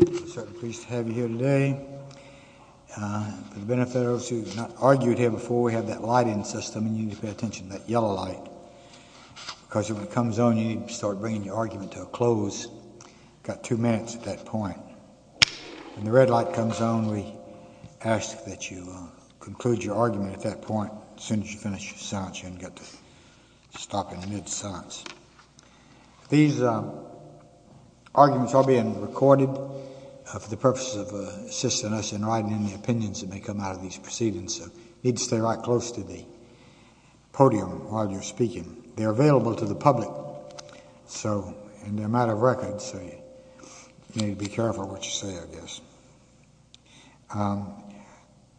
I'm certainly pleased to have you here today. For the benefit of those who have not argued here before, we have that lighting system, and you need to pay attention to that yellow light. Because when it comes on, you need to start bringing your argument to a close. You've got two minutes at that point. When the red light comes on, we ask that you conclude your argument at that point. As soon as you finish your silence, you haven't got to stop in the midst of silence. These arguments are being recorded for the purpose of assisting us in writing in the opinions that may come out of these proceedings. You need to stay right close to the podium while you're speaking. They're available to the public, and they're a matter of record, so you need to be careful what you say, I guess.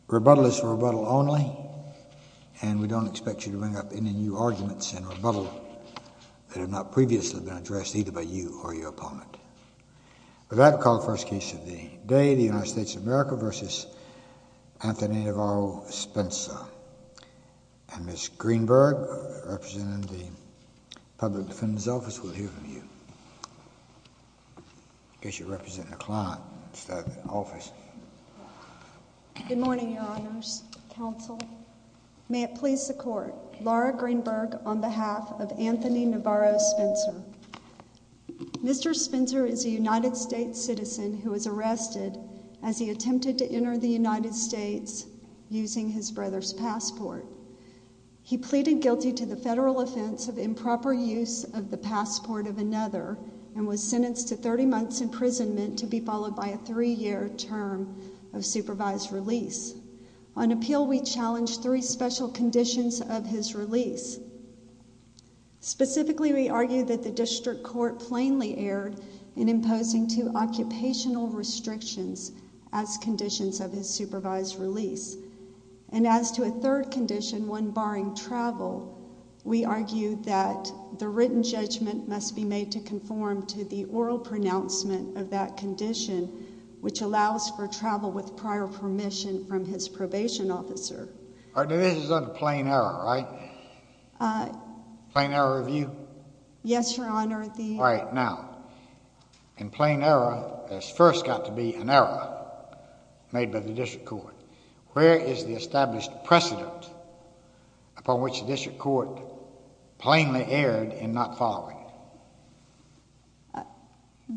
Rebuttal is rebuttal only, and we don't expect you to bring up any new arguments in rebuttal that have not previously been addressed either by you or your opponent. With that, we'll call the first case of the day, the United States of America v. Anthony Navarro Spencer. Ms. Greenberg, representing the Public Defender's Office, will hear from you. In case you're representing a client instead of an office. Good morning, Your Honors. Counsel. May it please the Court, Laura Greenberg on behalf of Anthony Navarro Spencer. Mr. Spencer is a United States citizen who was arrested as he attempted to enter the United States using his brother's passport. He pleaded guilty to the federal offense of improper use of the passport of another and was sentenced to 30 months imprisonment to be followed by a three-year term of supervised release. On appeal, we challenged three special conditions of his release. Specifically, we argued that the district court plainly erred in imposing two occupational restrictions as conditions of his supervised release. And as to a third condition, one barring travel, we argued that the written judgment must be made to conform to the oral pronouncement of that condition, which allows for travel with prior permission from his probation officer. Our division is under plain error, right? Plain error of view? Yes, Your Honor. All right. Now, in plain error, there's first got to be an error made by the district court. Where is the established precedent upon which the district court plainly erred in not following it?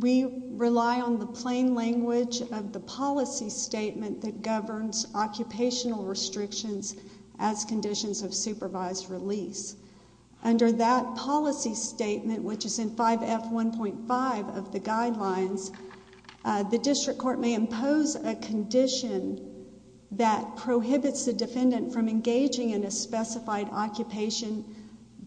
We rely on the plain language of the policy statement that governs occupational restrictions as conditions of supervised release. Under that policy statement, which is in 5F1.5 of the guidelines, the district court may impose a condition that prohibits the defendant from engaging in a specified occupation,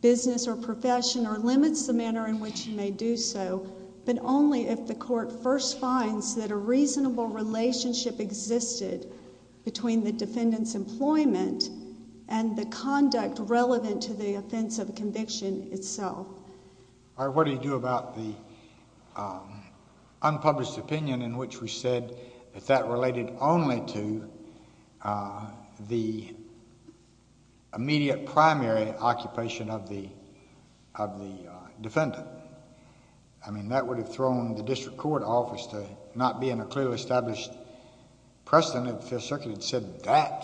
business, or profession, or limits the manner in which he may do so, but only if the court first finds that a reasonable relationship existed between the defendant's employment and the conduct relevant to the offense of conviction itself. All right, what do you do about the unpublished opinion in which we said that that related only to the immediate primary occupation of the defendant? I mean, that would have thrown the district court office to not be in a clearly established precedent if the circuit had said that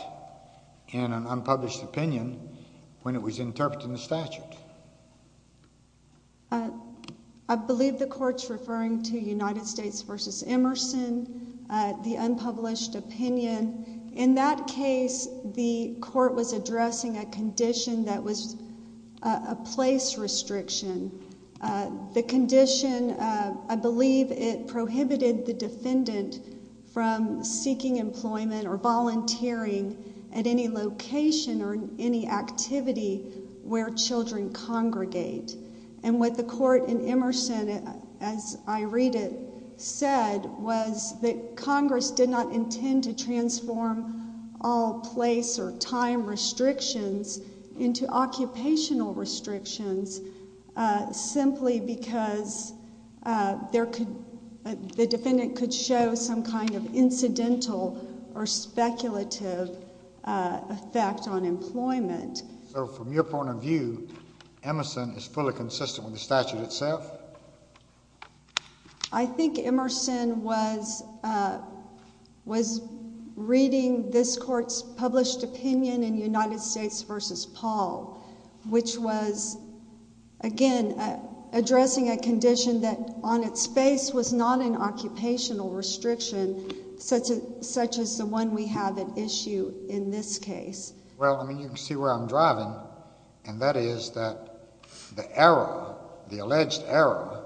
in an unpublished opinion when it was interpreting the statute. I believe the court's referring to United States v. Emerson, the unpublished opinion. In that case, the court was addressing a condition that was a place restriction. The condition, I believe it prohibited the defendant from seeking employment or volunteering at any location or any activity where children congregate. And what the court in Emerson, as I read it, said was that Congress did not intend to transform all place or time restrictions into occupational restrictions simply because the defendant could show some kind of incidental or speculative effect on employment. So from your point of view, Emerson is fully consistent with the statute itself? I think Emerson was reading this court's published opinion in United States v. Paul, which was, again, addressing a condition that on its face was not an occupational restriction such as the one we have at issue in this case. Well, I mean, you can see where I'm driving, and that is that the error, the alleged error,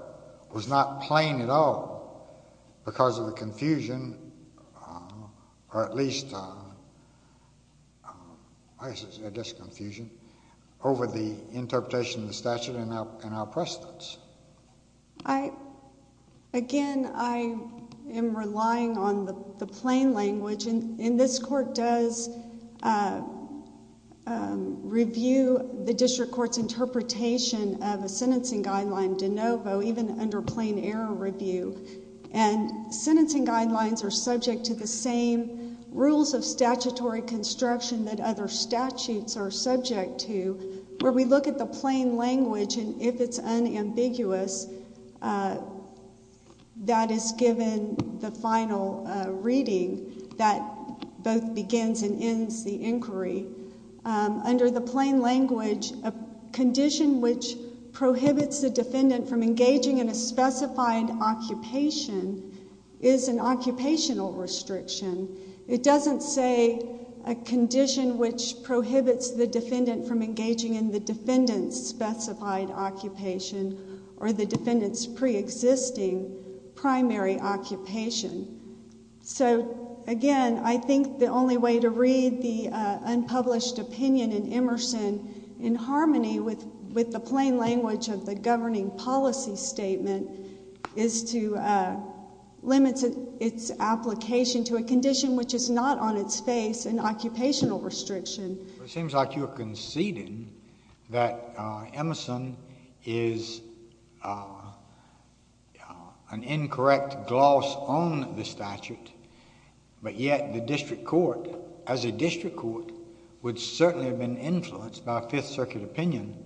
was not plain at all because of the confusion, or at least, I guess it's just confusion, over the interpretation of the statute and our precedents. Again, I am relying on the plain language, and this court does review the district court's interpretation of a sentencing guideline de novo, even under plain error review, and sentencing guidelines are subject to the same rules of statutory construction that other statutes are subject to, where we look at the plain language, and if it's unambiguous, that is given the final reading that both begins and ends the inquiry. Under the plain language, a condition which prohibits the defendant from engaging in a specified occupation is an occupational restriction. It doesn't say a condition which prohibits the defendant from engaging in the defendant's specified occupation or the defendant's preexisting primary occupation. So, again, I think the only way to read the unpublished opinion in Emerson in harmony with the plain language of the governing policy statement is to limit its application to a condition which is not on its face an occupational restriction. It seems like you are conceding that Emerson is an incorrect gloss on the statute, but yet the district court, as a district court, would certainly have been influenced by Fifth Circuit opinion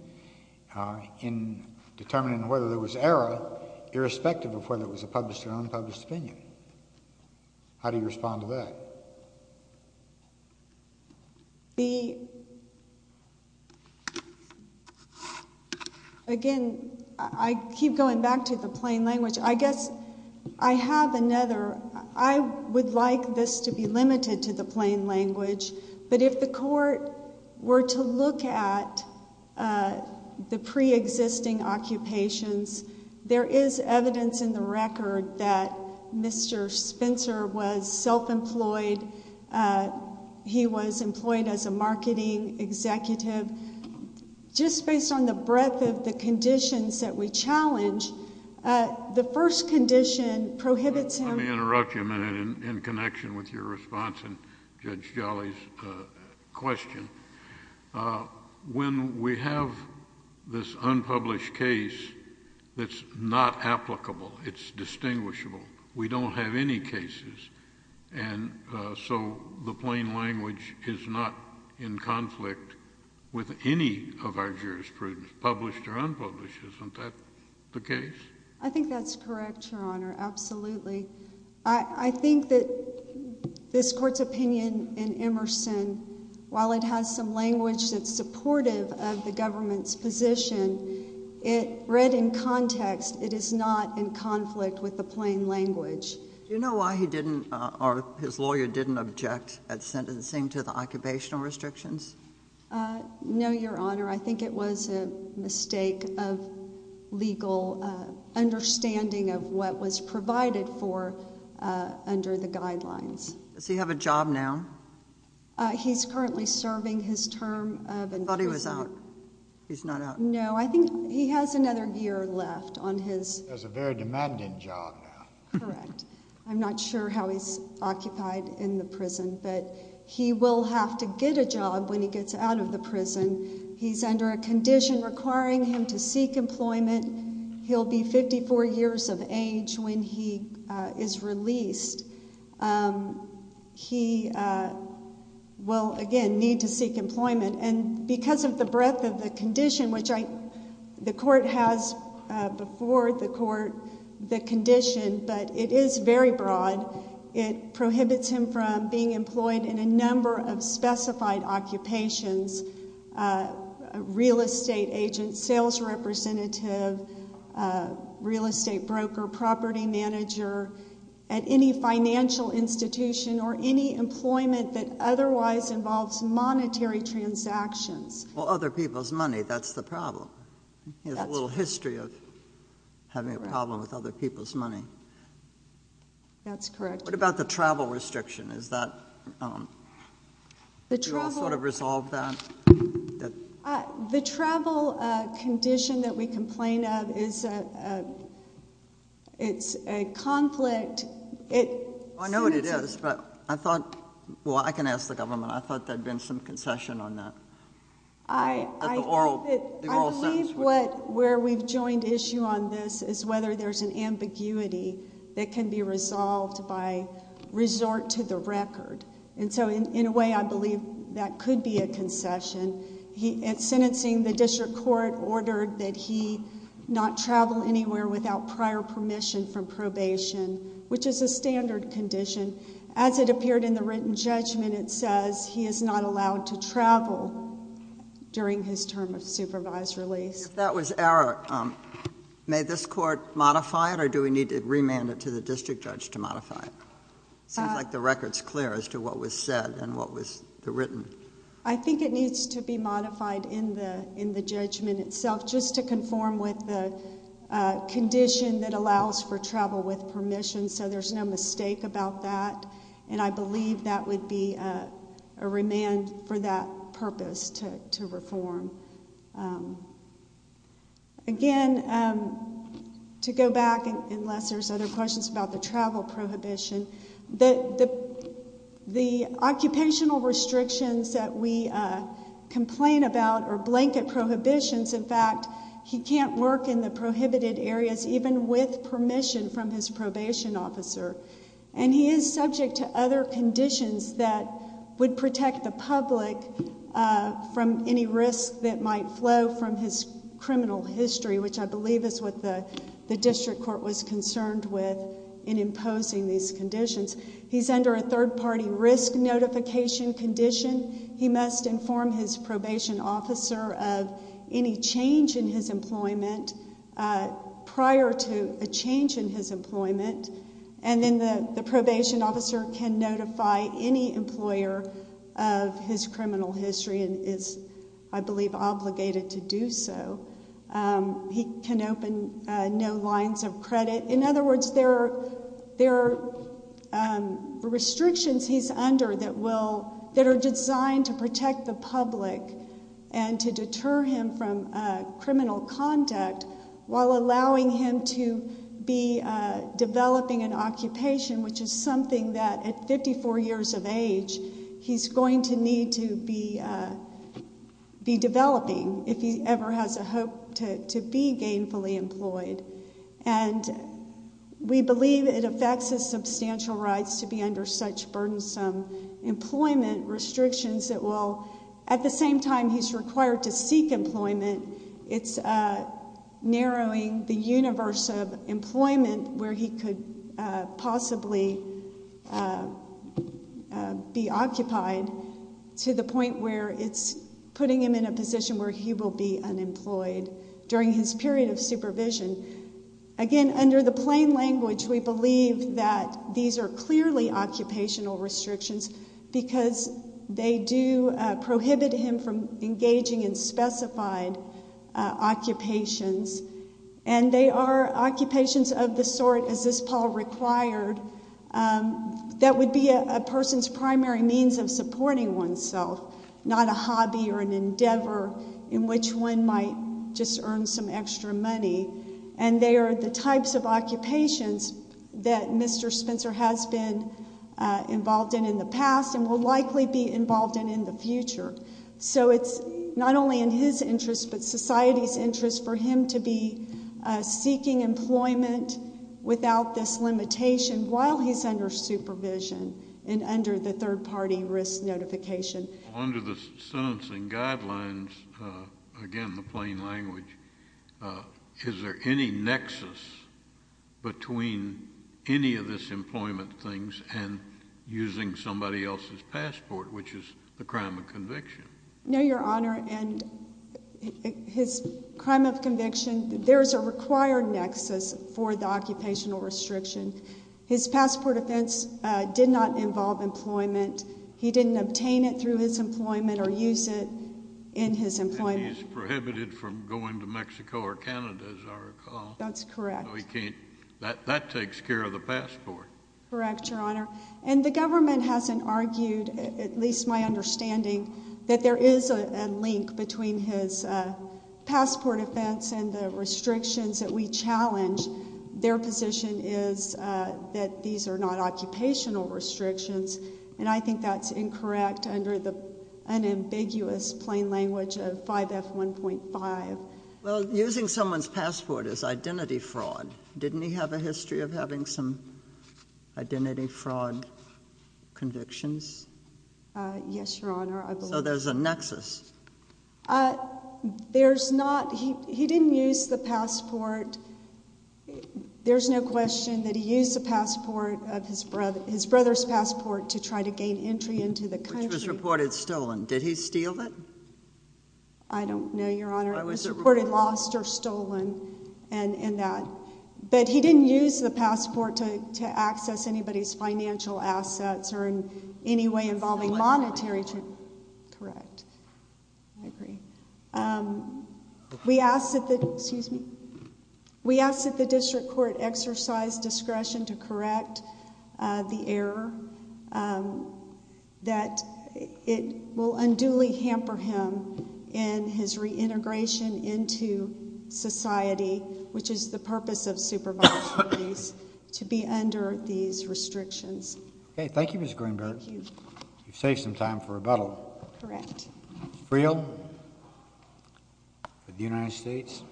in determining whether there was error, irrespective of whether it was a published or unpublished opinion. How do you respond to that? The, again, I keep going back to the plain language. I guess I have another. I would like this to be limited to the plain language, but if the court were to look at the preexisting occupations, there is evidence in the record that Mr. Spencer was self-employed. He was employed as a marketing executive. Just based on the breadth of the conditions that we challenge, the first condition prohibits him. Let me interrupt you a minute in connection with your response and Judge Jolly's question. When we have this unpublished case that's not applicable, it's distinguishable, we don't have any cases, and so the plain language is not in conflict with any of our jurisprudence, published or unpublished. Isn't that the case? I think that's correct, Your Honor, absolutely. I think that this Court's opinion in Emerson, while it has some language that's supportive of the government's position, it read in context it is not in conflict with the plain language. Do you know why he didn't or his lawyer didn't object at sentencing to the occupational restrictions? No, Your Honor. I think it was a mistake of legal understanding of what was provided for under the guidelines. Does he have a job now? He's currently serving his term of imprisonment. I thought he was out. He's not out. No, I think he has another year left on his... He has a very demanding job now. Correct. I'm not sure how he's occupied in the prison, but he will have to get a job when he gets out of the prison. He's under a condition requiring him to seek employment. He'll be 54 years of age when he is released. He will, again, need to seek employment, and because of the breadth of the condition, which the Court has before the Court the condition, but it is very broad. It prohibits him from being employed in a number of specified occupations, real estate agent, sales representative, real estate broker, property manager, at any financial institution or any employment that otherwise involves monetary transactions. Well, other people's money, that's the problem. He has a little history of having a problem with other people's money. That's correct. What about the travel restriction? Is that... The travel... Do you all sort of resolve that? The travel condition that we complain of is a conflict. I know it is, but I thought, well, I can ask the government. I thought there had been some concession on that. I believe where we've joined issue on this is whether there's an ambiguity that can be resolved by resort to the record. And so, in a way, I believe that could be a concession. In sentencing, the district court ordered that he not travel anywhere without prior permission from probation, which is a standard condition. As it appeared in the written judgment, it says he is not allowed to travel during his term of supervised release. If that was error, may this court modify it, or do we need to remand it to the district judge to modify it? It seems like the record's clear as to what was said and what was written. I think it needs to be modified in the judgment itself just to conform with the condition that allows for travel with permission, so there's no mistake about that. And I believe that would be a remand for that purpose to reform. Again, to go back, unless there's other questions about the travel prohibition, the occupational restrictions that we complain about are blanket prohibitions. In fact, he can't work in the prohibited areas even with permission from his probation officer, and he is subject to other conditions that would protect the public from any risk that might flow from his criminal history, which I believe is what the district court was concerned with in imposing these conditions. He's under a third-party risk notification condition. He must inform his probation officer of any change in his employment prior to a change in his employment, and then the probation officer can notify any employer of his criminal history and is, I believe, obligated to do so. He can open no lines of credit. In other words, there are restrictions he's under that are designed to protect the public and to deter him from criminal conduct while allowing him to be developing an occupation, which is something that at 54 years of age he's going to need to be developing if he ever has a hope to be gainfully employed. And we believe it affects his substantial rights to be under such burdensome employment restrictions that will at the same time he's required to seek employment, it's narrowing the universe of employment where he could possibly be occupied to the point where it's putting him in a position where he will be unemployed during his period of supervision. Again, under the plain language, we believe that these are clearly occupational restrictions because they do prohibit him from engaging in specified occupations, and they are occupations of the sort, as this poll required, that would be a person's primary means of supporting oneself, not a hobby or an endeavor in which one might just earn some extra money. And they are the types of occupations that Mr. Spencer has been involved in in the past and will likely be involved in in the future. So it's not only in his interest but society's interest for him to be seeking employment without this limitation while he's under supervision and under the third-party risk notification. Under the sentencing guidelines, again, the plain language, is there any nexus between any of this employment things and using somebody else's passport, which is the crime of conviction? No, Your Honor, and his crime of conviction, there is a required nexus for the occupational restriction. His passport offense did not involve employment. He didn't obtain it through his employment or use it in his employment. He's prohibited from going to Mexico or Canada, as I recall. That's correct. That takes care of the passport. Correct, Your Honor. And the government hasn't argued, at least my understanding, that there is a link between his passport offense and the restrictions that we challenge. Their position is that these are not occupational restrictions, and I think that's incorrect under the unambiguous plain language of 5F1.5. Well, using someone's passport is identity fraud. Didn't he have a history of having some identity fraud convictions? Yes, Your Honor. So there's a nexus. There's not. He didn't use the passport. There's no question that he used the passport, his brother's passport, to try to gain entry into the country. Which was reported stolen. Did he steal it? I don't know, Your Honor. It was reported lost or stolen and that. But he didn't use the passport to access anybody's financial assets or in any way involving monetary. Correct. I agree. We ask that the district court exercise discretion to correct the error that it will unduly hamper him in his reintegration into society, which is the purpose of supervised release, to be under these restrictions. Okay. Thank you, Ms. Greenberg. You've saved some time for rebuttal. Correct. Freel, for the United States.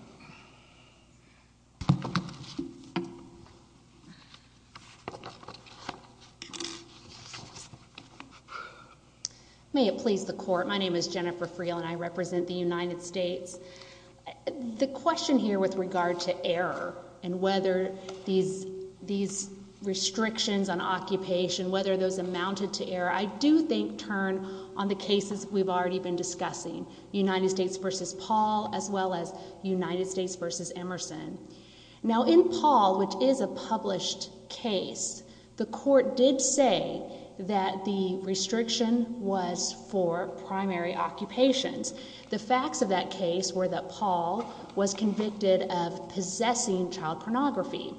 May it please the court. My name is Jennifer Freel and I represent the United States. The question here with regard to error and whether these restrictions on occupation, whether those amounted to error, I do think turn on the cases we've already been discussing. United States versus Paul as well as United States versus Emerson. Now in Paul, which is a published case, the court did say that the restriction was for primary occupations. The facts of that case were that Paul was convicted of possessing child pornography.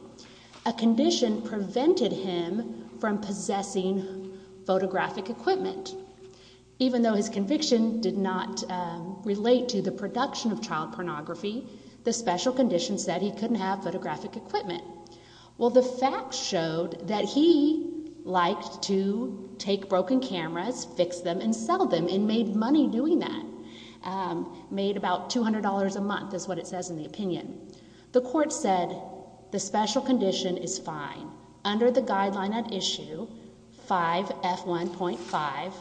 A condition prevented him from possessing photographic equipment. Even though his conviction did not relate to the production of child pornography, the special condition said he couldn't have photographic equipment. Well, the facts showed that he liked to take broken cameras, fix them, and sell them and made money doing that. Made about $200 a month is what it says in the opinion. The court said the special condition is fine. Under the guideline at issue 5F1.5,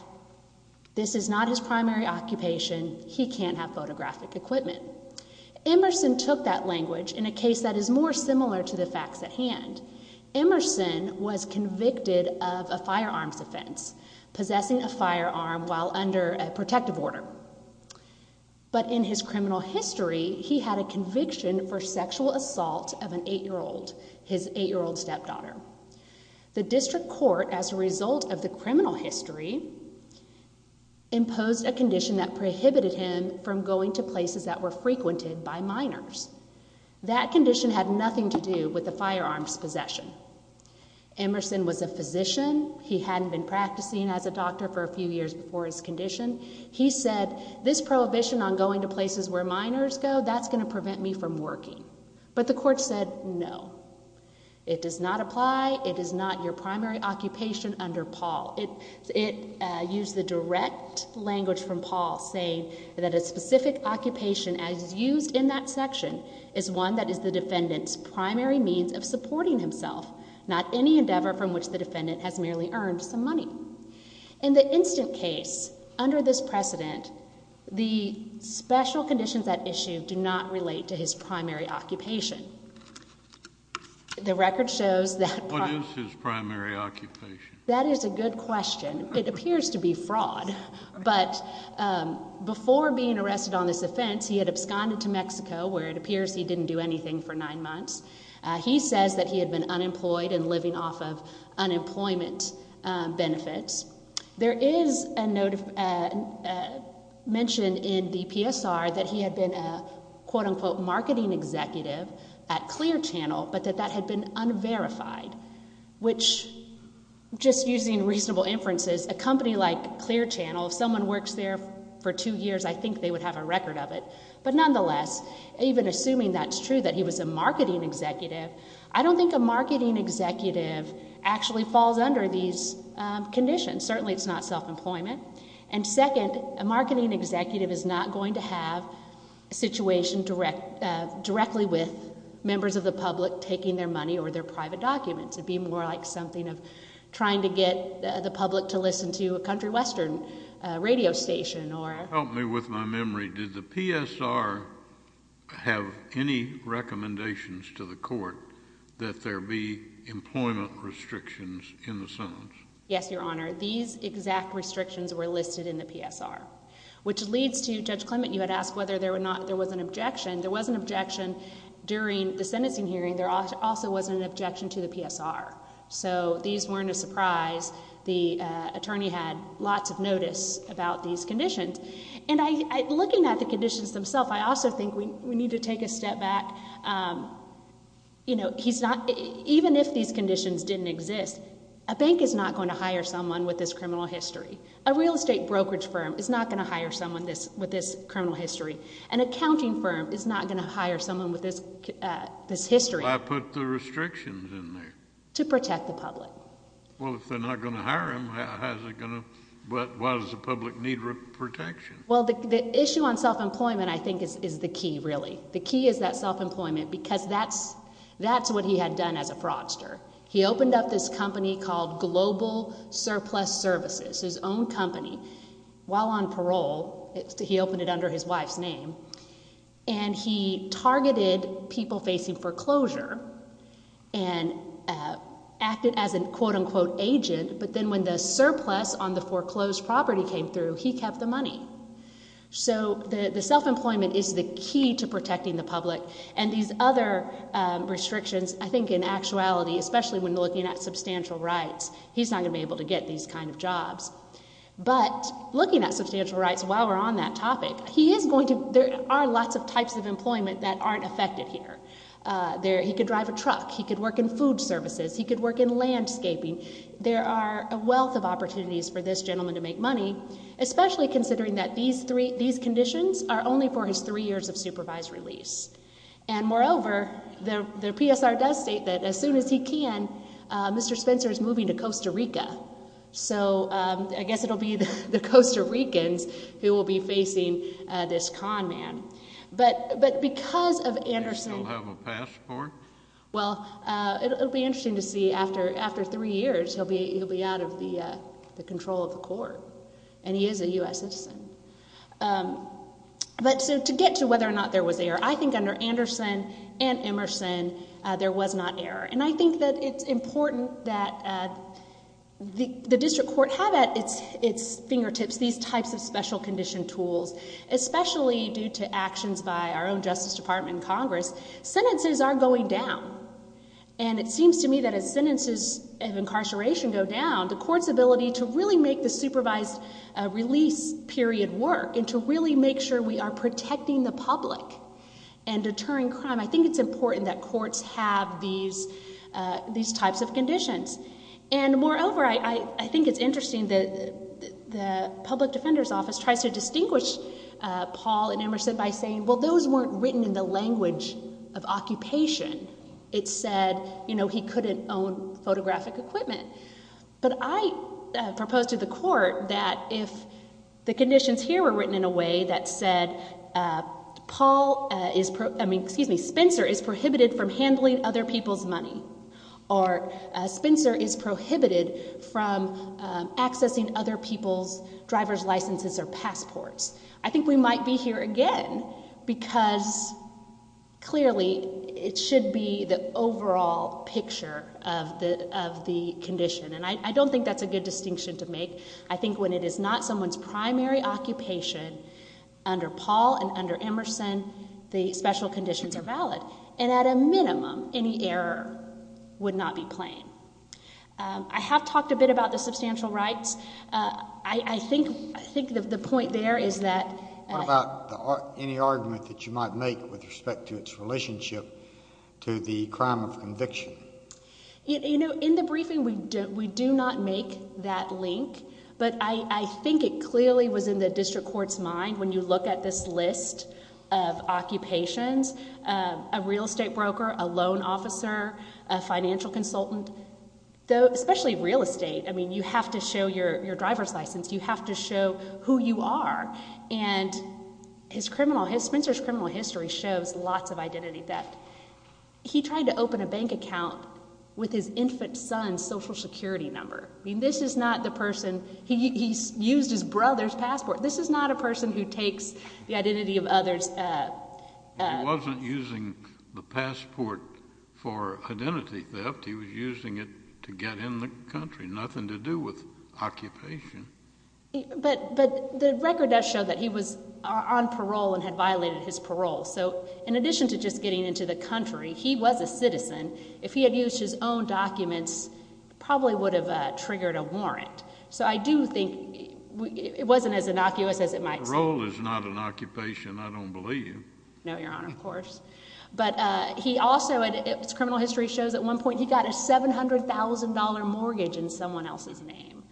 this is not his primary occupation. He can't have photographic equipment. Emerson took that language in a case that is more similar to the facts at hand. Emerson was convicted of a firearms offense, possessing a firearm while under a protective order. But in his criminal history, he had a conviction for sexual assault of an 8-year-old, his 8-year-old stepdaughter. The district court, as a result of the criminal history, imposed a condition that prohibited him from going to places that were frequented by minors. That condition had nothing to do with the firearms possession. Emerson was a physician. He hadn't been practicing as a doctor for a few years before his condition. He said this prohibition on going to places where minors go, that's going to prevent me from working. But the court said no. It does not apply. It is not your primary occupation under Paul. It used the direct language from Paul saying that a specific occupation as used in that section is one that is the defendant's primary means of supporting himself, not any endeavor from which the defendant has merely earned some money. In the instant case, under this precedent, the special conditions at issue do not relate to his primary occupation. The record shows that. What is his primary occupation? That is a good question. It appears to be fraud. But before being arrested on this offense, he had absconded to Mexico, where it appears he didn't do anything for nine months. He says that he had been unemployed and living off of unemployment benefits. There is a note mentioned in the PSR that he had been a, quote, unquote, marketing executive at Clear Channel, but that that had been unverified. Which, just using reasonable inferences, a company like Clear Channel, if someone works there for two years, I think they would have a record of it. But nonetheless, even assuming that's true, that he was a marketing executive, I don't think a marketing executive actually falls under these conditions. Certainly it's not self-employment. And second, a marketing executive is not going to have a situation directly with members of the public taking their money or their private documents. It would be more like something of trying to get the public to listen to a country western radio station. Help me with my memory. Did the PSR have any recommendations to the court that there be employment restrictions in the sentence? Yes, Your Honor. These exact restrictions were listed in the PSR. Which leads to, Judge Clement, you had asked whether there was an objection. There was an objection during the sentencing hearing. There also was an objection to the PSR. So these weren't a surprise. The attorney had lots of notice about these conditions. And looking at the conditions themselves, I also think we need to take a step back. You know, even if these conditions didn't exist, a bank is not going to hire someone with this criminal history. A real estate brokerage firm is not going to hire someone with this criminal history. An accounting firm is not going to hire someone with this history. Why put the restrictions in there? To protect the public. Well, if they're not going to hire him, why does the public need protection? Well, the issue on self-employment, I think, is the key, really. The key is that self-employment because that's what he had done as a fraudster. He opened up this company called Global Surplus Services, his own company, while on parole. He opened it under his wife's name. And he targeted people facing foreclosure and acted as a quote-unquote agent. But then when the surplus on the foreclosed property came through, he kept the money. So the self-employment is the key to protecting the public. And these other restrictions, I think, in actuality, especially when looking at substantial rights, he's not going to be able to get these kind of jobs. But looking at substantial rights while we're on that topic, there are lots of types of employment that aren't affected here. He could drive a truck. He could work in food services. He could work in landscaping. There are a wealth of opportunities for this gentleman to make money, especially considering that these conditions are only for his three years of supervised release. And moreover, the PSR does state that as soon as he can, Mr. Spencer is moving to Costa Rica. So I guess it will be the Costa Ricans who will be facing this con man. But because of Anderson. Does he still have a passport? Well, it will be interesting to see after three years. He'll be out of the control of the court. And he is a U.S. citizen. But to get to whether or not there was error, I think under Anderson and Emerson, there was not error. And I think that it's important that the district court have at its fingertips these types of special condition tools, especially due to actions by our own Justice Department and Congress. Sentences are going down. And it seems to me that as sentences of incarceration go down, the court's ability to really make the supervised release period work and to really make sure we are protecting the public and deterring crime, I think it's important that courts have these types of conditions. And moreover, I think it's interesting that the public defender's office tries to distinguish Paul and Emerson by saying, well, those weren't written in the language of occupation. It said, you know, he couldn't own photographic equipment. But I propose to the court that if the conditions here were written in a way that said Spencer is prohibited from handling other people's money or Spencer is prohibited from accessing other people's driver's licenses or passports, I think we might be here again because clearly it should be the overall picture of the condition. And I don't think that's a good distinction to make. I think when it is not someone's primary occupation under Paul and under Emerson, the special conditions are valid. And at a minimum, any error would not be plain. I have talked a bit about the substantial rights. I think the point there is that. What about any argument that you might make with respect to its relationship to the crime of conviction? You know, in the briefing we do not make that link. But I think it clearly was in the district court's mind when you look at this list of occupations, a real estate broker, a loan officer, a financial consultant, especially real estate. I mean, you have to show your driver's license. You have to show who you are. And Spencer's criminal history shows lots of identity theft. He tried to open a bank account with his infant son's Social Security number. I mean, this is not the person. He used his brother's passport. This is not a person who takes the identity of others. He wasn't using the passport for identity theft. He was using it to get in the country, nothing to do with occupation. But the record does show that he was on parole and had violated his parole. So in addition to just getting into the country, he was a citizen. If he had used his own documents, probably would have triggered a warrant. So I do think it wasn't as innocuous as it might seem. Parole is not an occupation, I don't believe. No, Your Honor, of course. But he also, his criminal history shows at one point he got a $700,000 mortgage in someone else's name.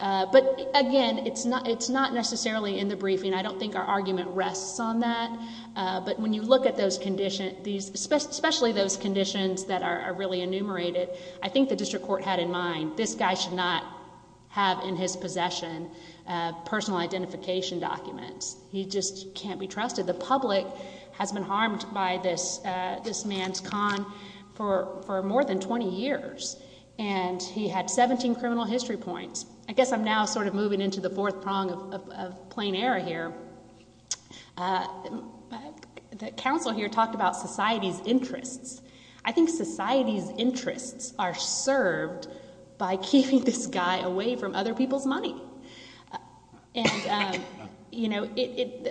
But, again, it's not necessarily in the briefing. I don't think our argument rests on that. But when you look at those conditions, especially those conditions that are really enumerated, I think the district court had in mind this guy should not have in his possession personal identification documents. He just can't be trusted. The public has been harmed by this man's con for more than 20 years. And he had 17 criminal history points. I guess I'm now sort of moving into the fourth prong of plain error here. The counsel here talked about society's interests. I think society's interests are served by keeping this guy away from other people's money. And, you know,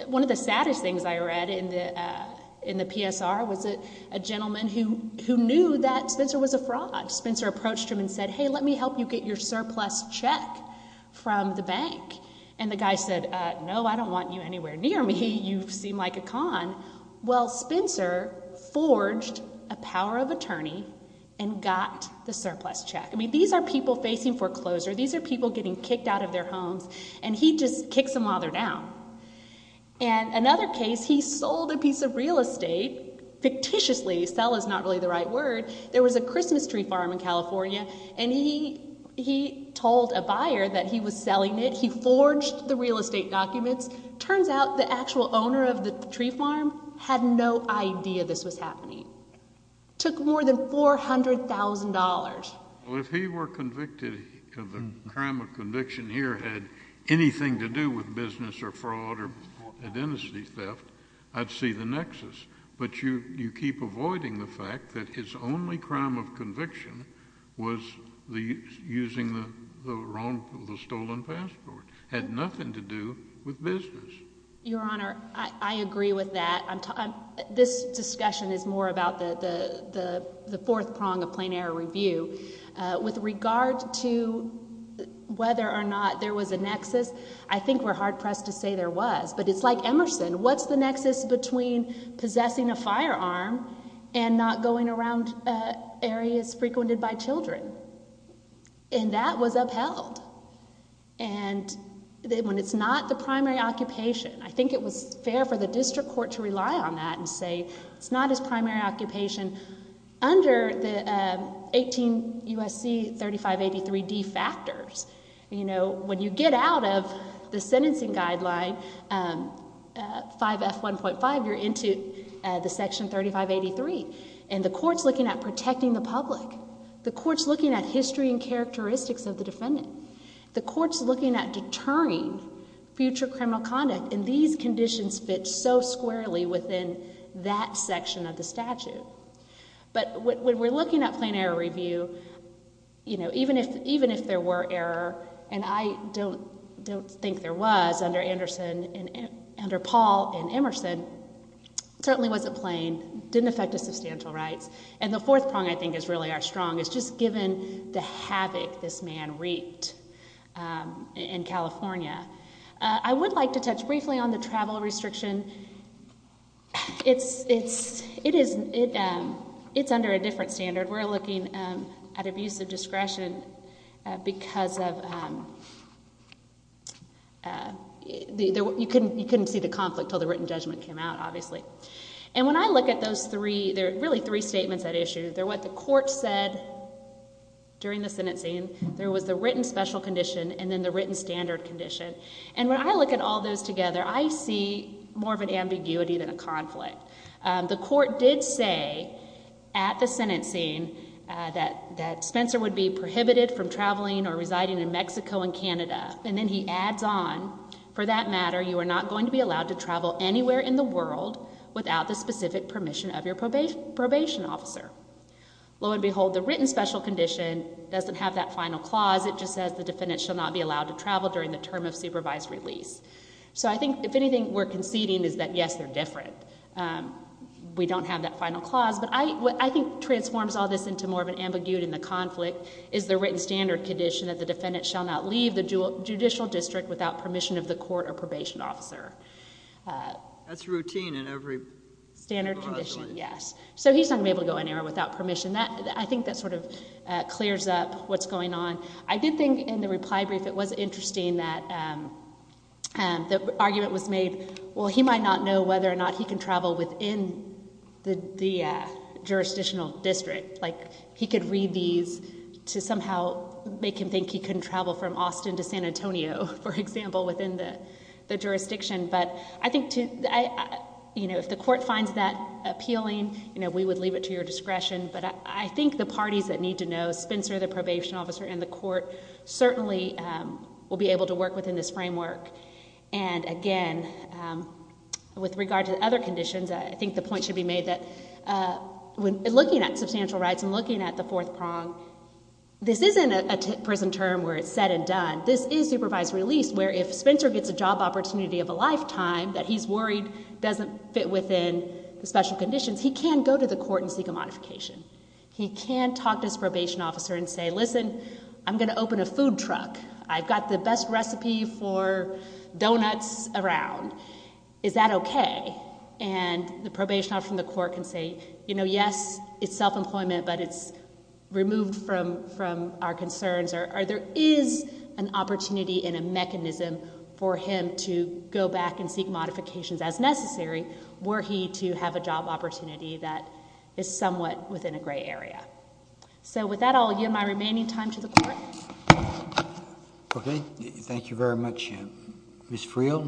one of the saddest things I read in the PSR was a gentleman who knew that Spencer was a fraud. Spencer approached him and said, hey, let me help you get your surplus check from the bank. And the guy said, no, I don't want you anywhere near me. You seem like a con. Well, Spencer forged a power of attorney and got the surplus check. I mean, these are people facing foreclosure. These are people getting kicked out of their homes. And he just kicks them while they're down. And another case, he sold a piece of real estate fictitiously. Sell is not really the right word. There was a Christmas tree farm in California, and he told a buyer that he was selling it. He forged the real estate documents. Turns out the actual owner of the tree farm had no idea this was happening. Took more than $400,000. Well, if he were convicted of a crime of conviction here had anything to do with business or fraud or identity theft, I'd see the nexus. But you keep avoiding the fact that his only crime of conviction was using the stolen passport. Had nothing to do with business. Your Honor, I agree with that. This discussion is more about the fourth prong of plain error review. With regard to whether or not there was a nexus, I think we're hard pressed to say there was. But it's like Emerson. What's the nexus between possessing a firearm and not going around areas frequented by children? And that was upheld. And when it's not the primary occupation, I think it was fair for the district court to rely on that and say it's not his primary occupation. Under the 18 U.S.C. 3583D factors, when you get out of the sentencing guideline 5F1.5, you're into the section 3583. And the court's looking at protecting the public. The court's looking at history and characteristics of the defendant. The court's looking at deterring future criminal conduct. And these conditions fit so squarely within that section of the statute. But when we're looking at plain error review, even if there were error, and I don't think there was under Paul and Emerson, it certainly wasn't plain. Didn't affect his substantial rights. And the fourth prong, I think, is really our strong. It's just given the havoc this man wreaked in California. I would like to touch briefly on the travel restriction. It's under a different standard. We're looking at abuse of discretion because you couldn't see the conflict until the written judgment came out, obviously. And when I look at those three, there are really three statements at issue. They're what the court said during the sentencing. There was the written special condition and then the written standard condition. And when I look at all those together, I see more of an ambiguity than a conflict. The court did say at the sentencing that Spencer would be prohibited from traveling or residing in Mexico and Canada. And then he adds on, for that matter, you are not going to be allowed to travel anywhere in the world without the specific permission of your probation officer. Lo and behold, the written special condition doesn't have that final clause. It just says the defendant shall not be allowed to travel during the term of supervised release. So I think, if anything, we're conceding is that, yes, they're different. We don't have that final clause. But what I think transforms all this into more of an ambiguity in the conflict is the written standard condition, that the defendant shall not leave the judicial district without permission of the court or probation officer. That's routine in every law. Standard condition, yes. So he's not going to be able to go anywhere without permission. I think that sort of clears up what's going on. I did think, in the reply brief, it was interesting that the argument was made, well, he might not know whether or not he can travel within the jurisdictional district. Like, he could read these to somehow make him think he can travel from Austin to San Antonio, for example, within the jurisdiction. But I think, you know, if the court finds that appealing, you know, we would leave it to your discretion. But I think the parties that need to know, Spencer, the probation officer, and the court, certainly will be able to work within this framework. And, again, with regard to other conditions, I think the point should be made that, when looking at substantial rights and looking at the fourth prong, this isn't a prison term where it's said and done. This is supervised release, where if Spencer gets a job opportunity of a lifetime that he's worried doesn't fit within the special conditions, he can go to the court and seek a modification. He can talk to his probation officer and say, listen, I'm going to open a food truck. I've got the best recipe for donuts around. Is that okay? And the probation officer from the court can say, you know, yes, it's self-employment, but it's removed from our concerns. Or there is an opportunity and a mechanism for him to go back and seek modifications as necessary, were he to have a job opportunity that is somewhat within a gray area. So with that, I'll give my remaining time to the court. Okay. Thank you very much, Ms. Friel.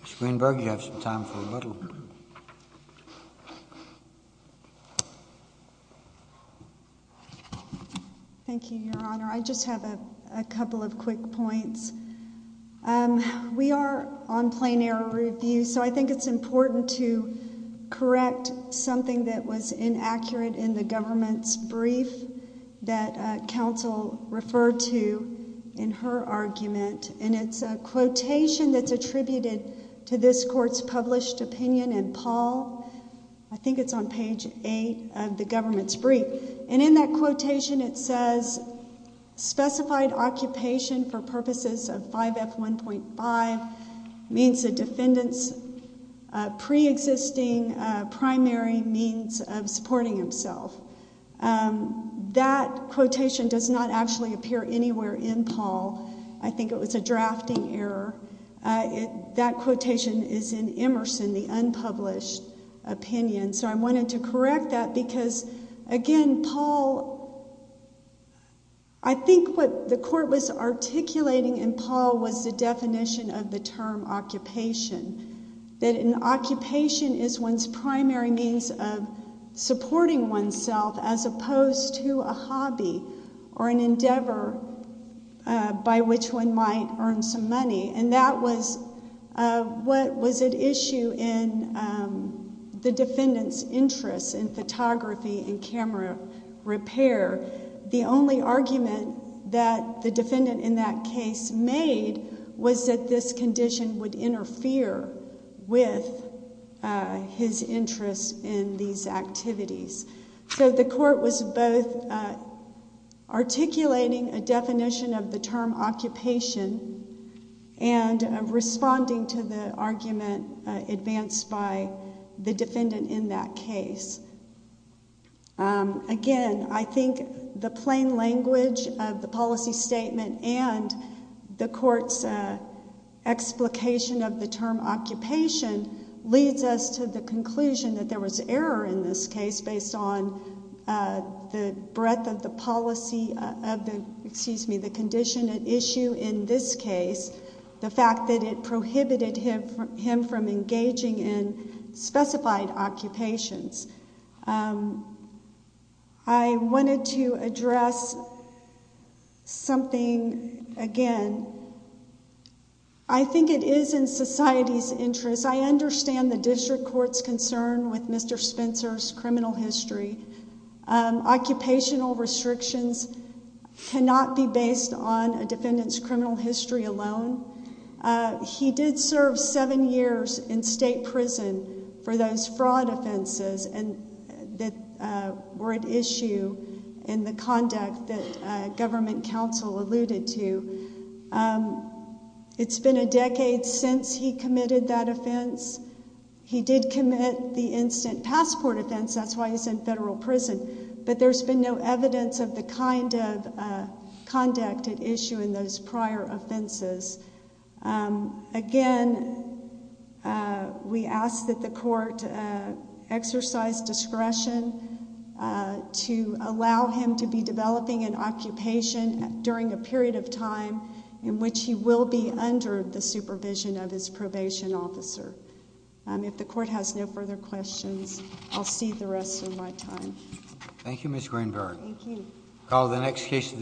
Ms. Greenberg, you have some time for a little. Thank you, Your Honor. I just have a couple of quick points. We are on plain error review, so I think it's important to correct something that was inaccurate in the government's brief that counsel referred to in her argument. And it's a quotation that's attributed to this court's published opinion in Paul. I think it's on page 8 of the government's brief. And in that quotation it says, specified occupation for purposes of 5F1.5 means a defendant's preexisting primary means of supporting himself. That quotation does not actually appear anywhere in Paul. I think it was a drafting error. That quotation is in Emerson, the unpublished opinion. So I wanted to correct that because, again, Paul, I think what the court was articulating in Paul was the definition of the term occupation. That an occupation is one's primary means of supporting oneself as opposed to a hobby or an endeavor by which one might earn some money. And that was what was at issue in the defendant's interest in photography and camera repair. The only argument that the defendant in that case made was that this condition would interfere with his interest in these activities. So the court was both articulating a definition of the term occupation and responding to the argument advanced by the defendant in that case. Again, I think the plain language of the policy statement and the court's explication of the term occupation leads us to the conclusion that there was error in this case based on the breadth of the condition at issue in this case, the fact that it prohibited him from engaging in specified occupations. I wanted to address something again. I think it is in society's interest. As I understand the district court's concern with Mr. Spencer's criminal history, occupational restrictions cannot be based on a defendant's criminal history alone. He did serve seven years in state prison for those fraud offenses that were at issue in the conduct that government counsel alluded to. It's been a decade since he committed that offense. He did commit the instant passport offense. That's why he's in federal prison. But there's been no evidence of the kind of conduct at issue in those prior offenses. Again, we ask that the court exercise discretion to allow him to be developing an occupation during a period of time in which he will be under the supervision of his probation officer. If the court has no further questions, I'll cede the rest of my time. Thank you, Ms. Greenberg. Thank you.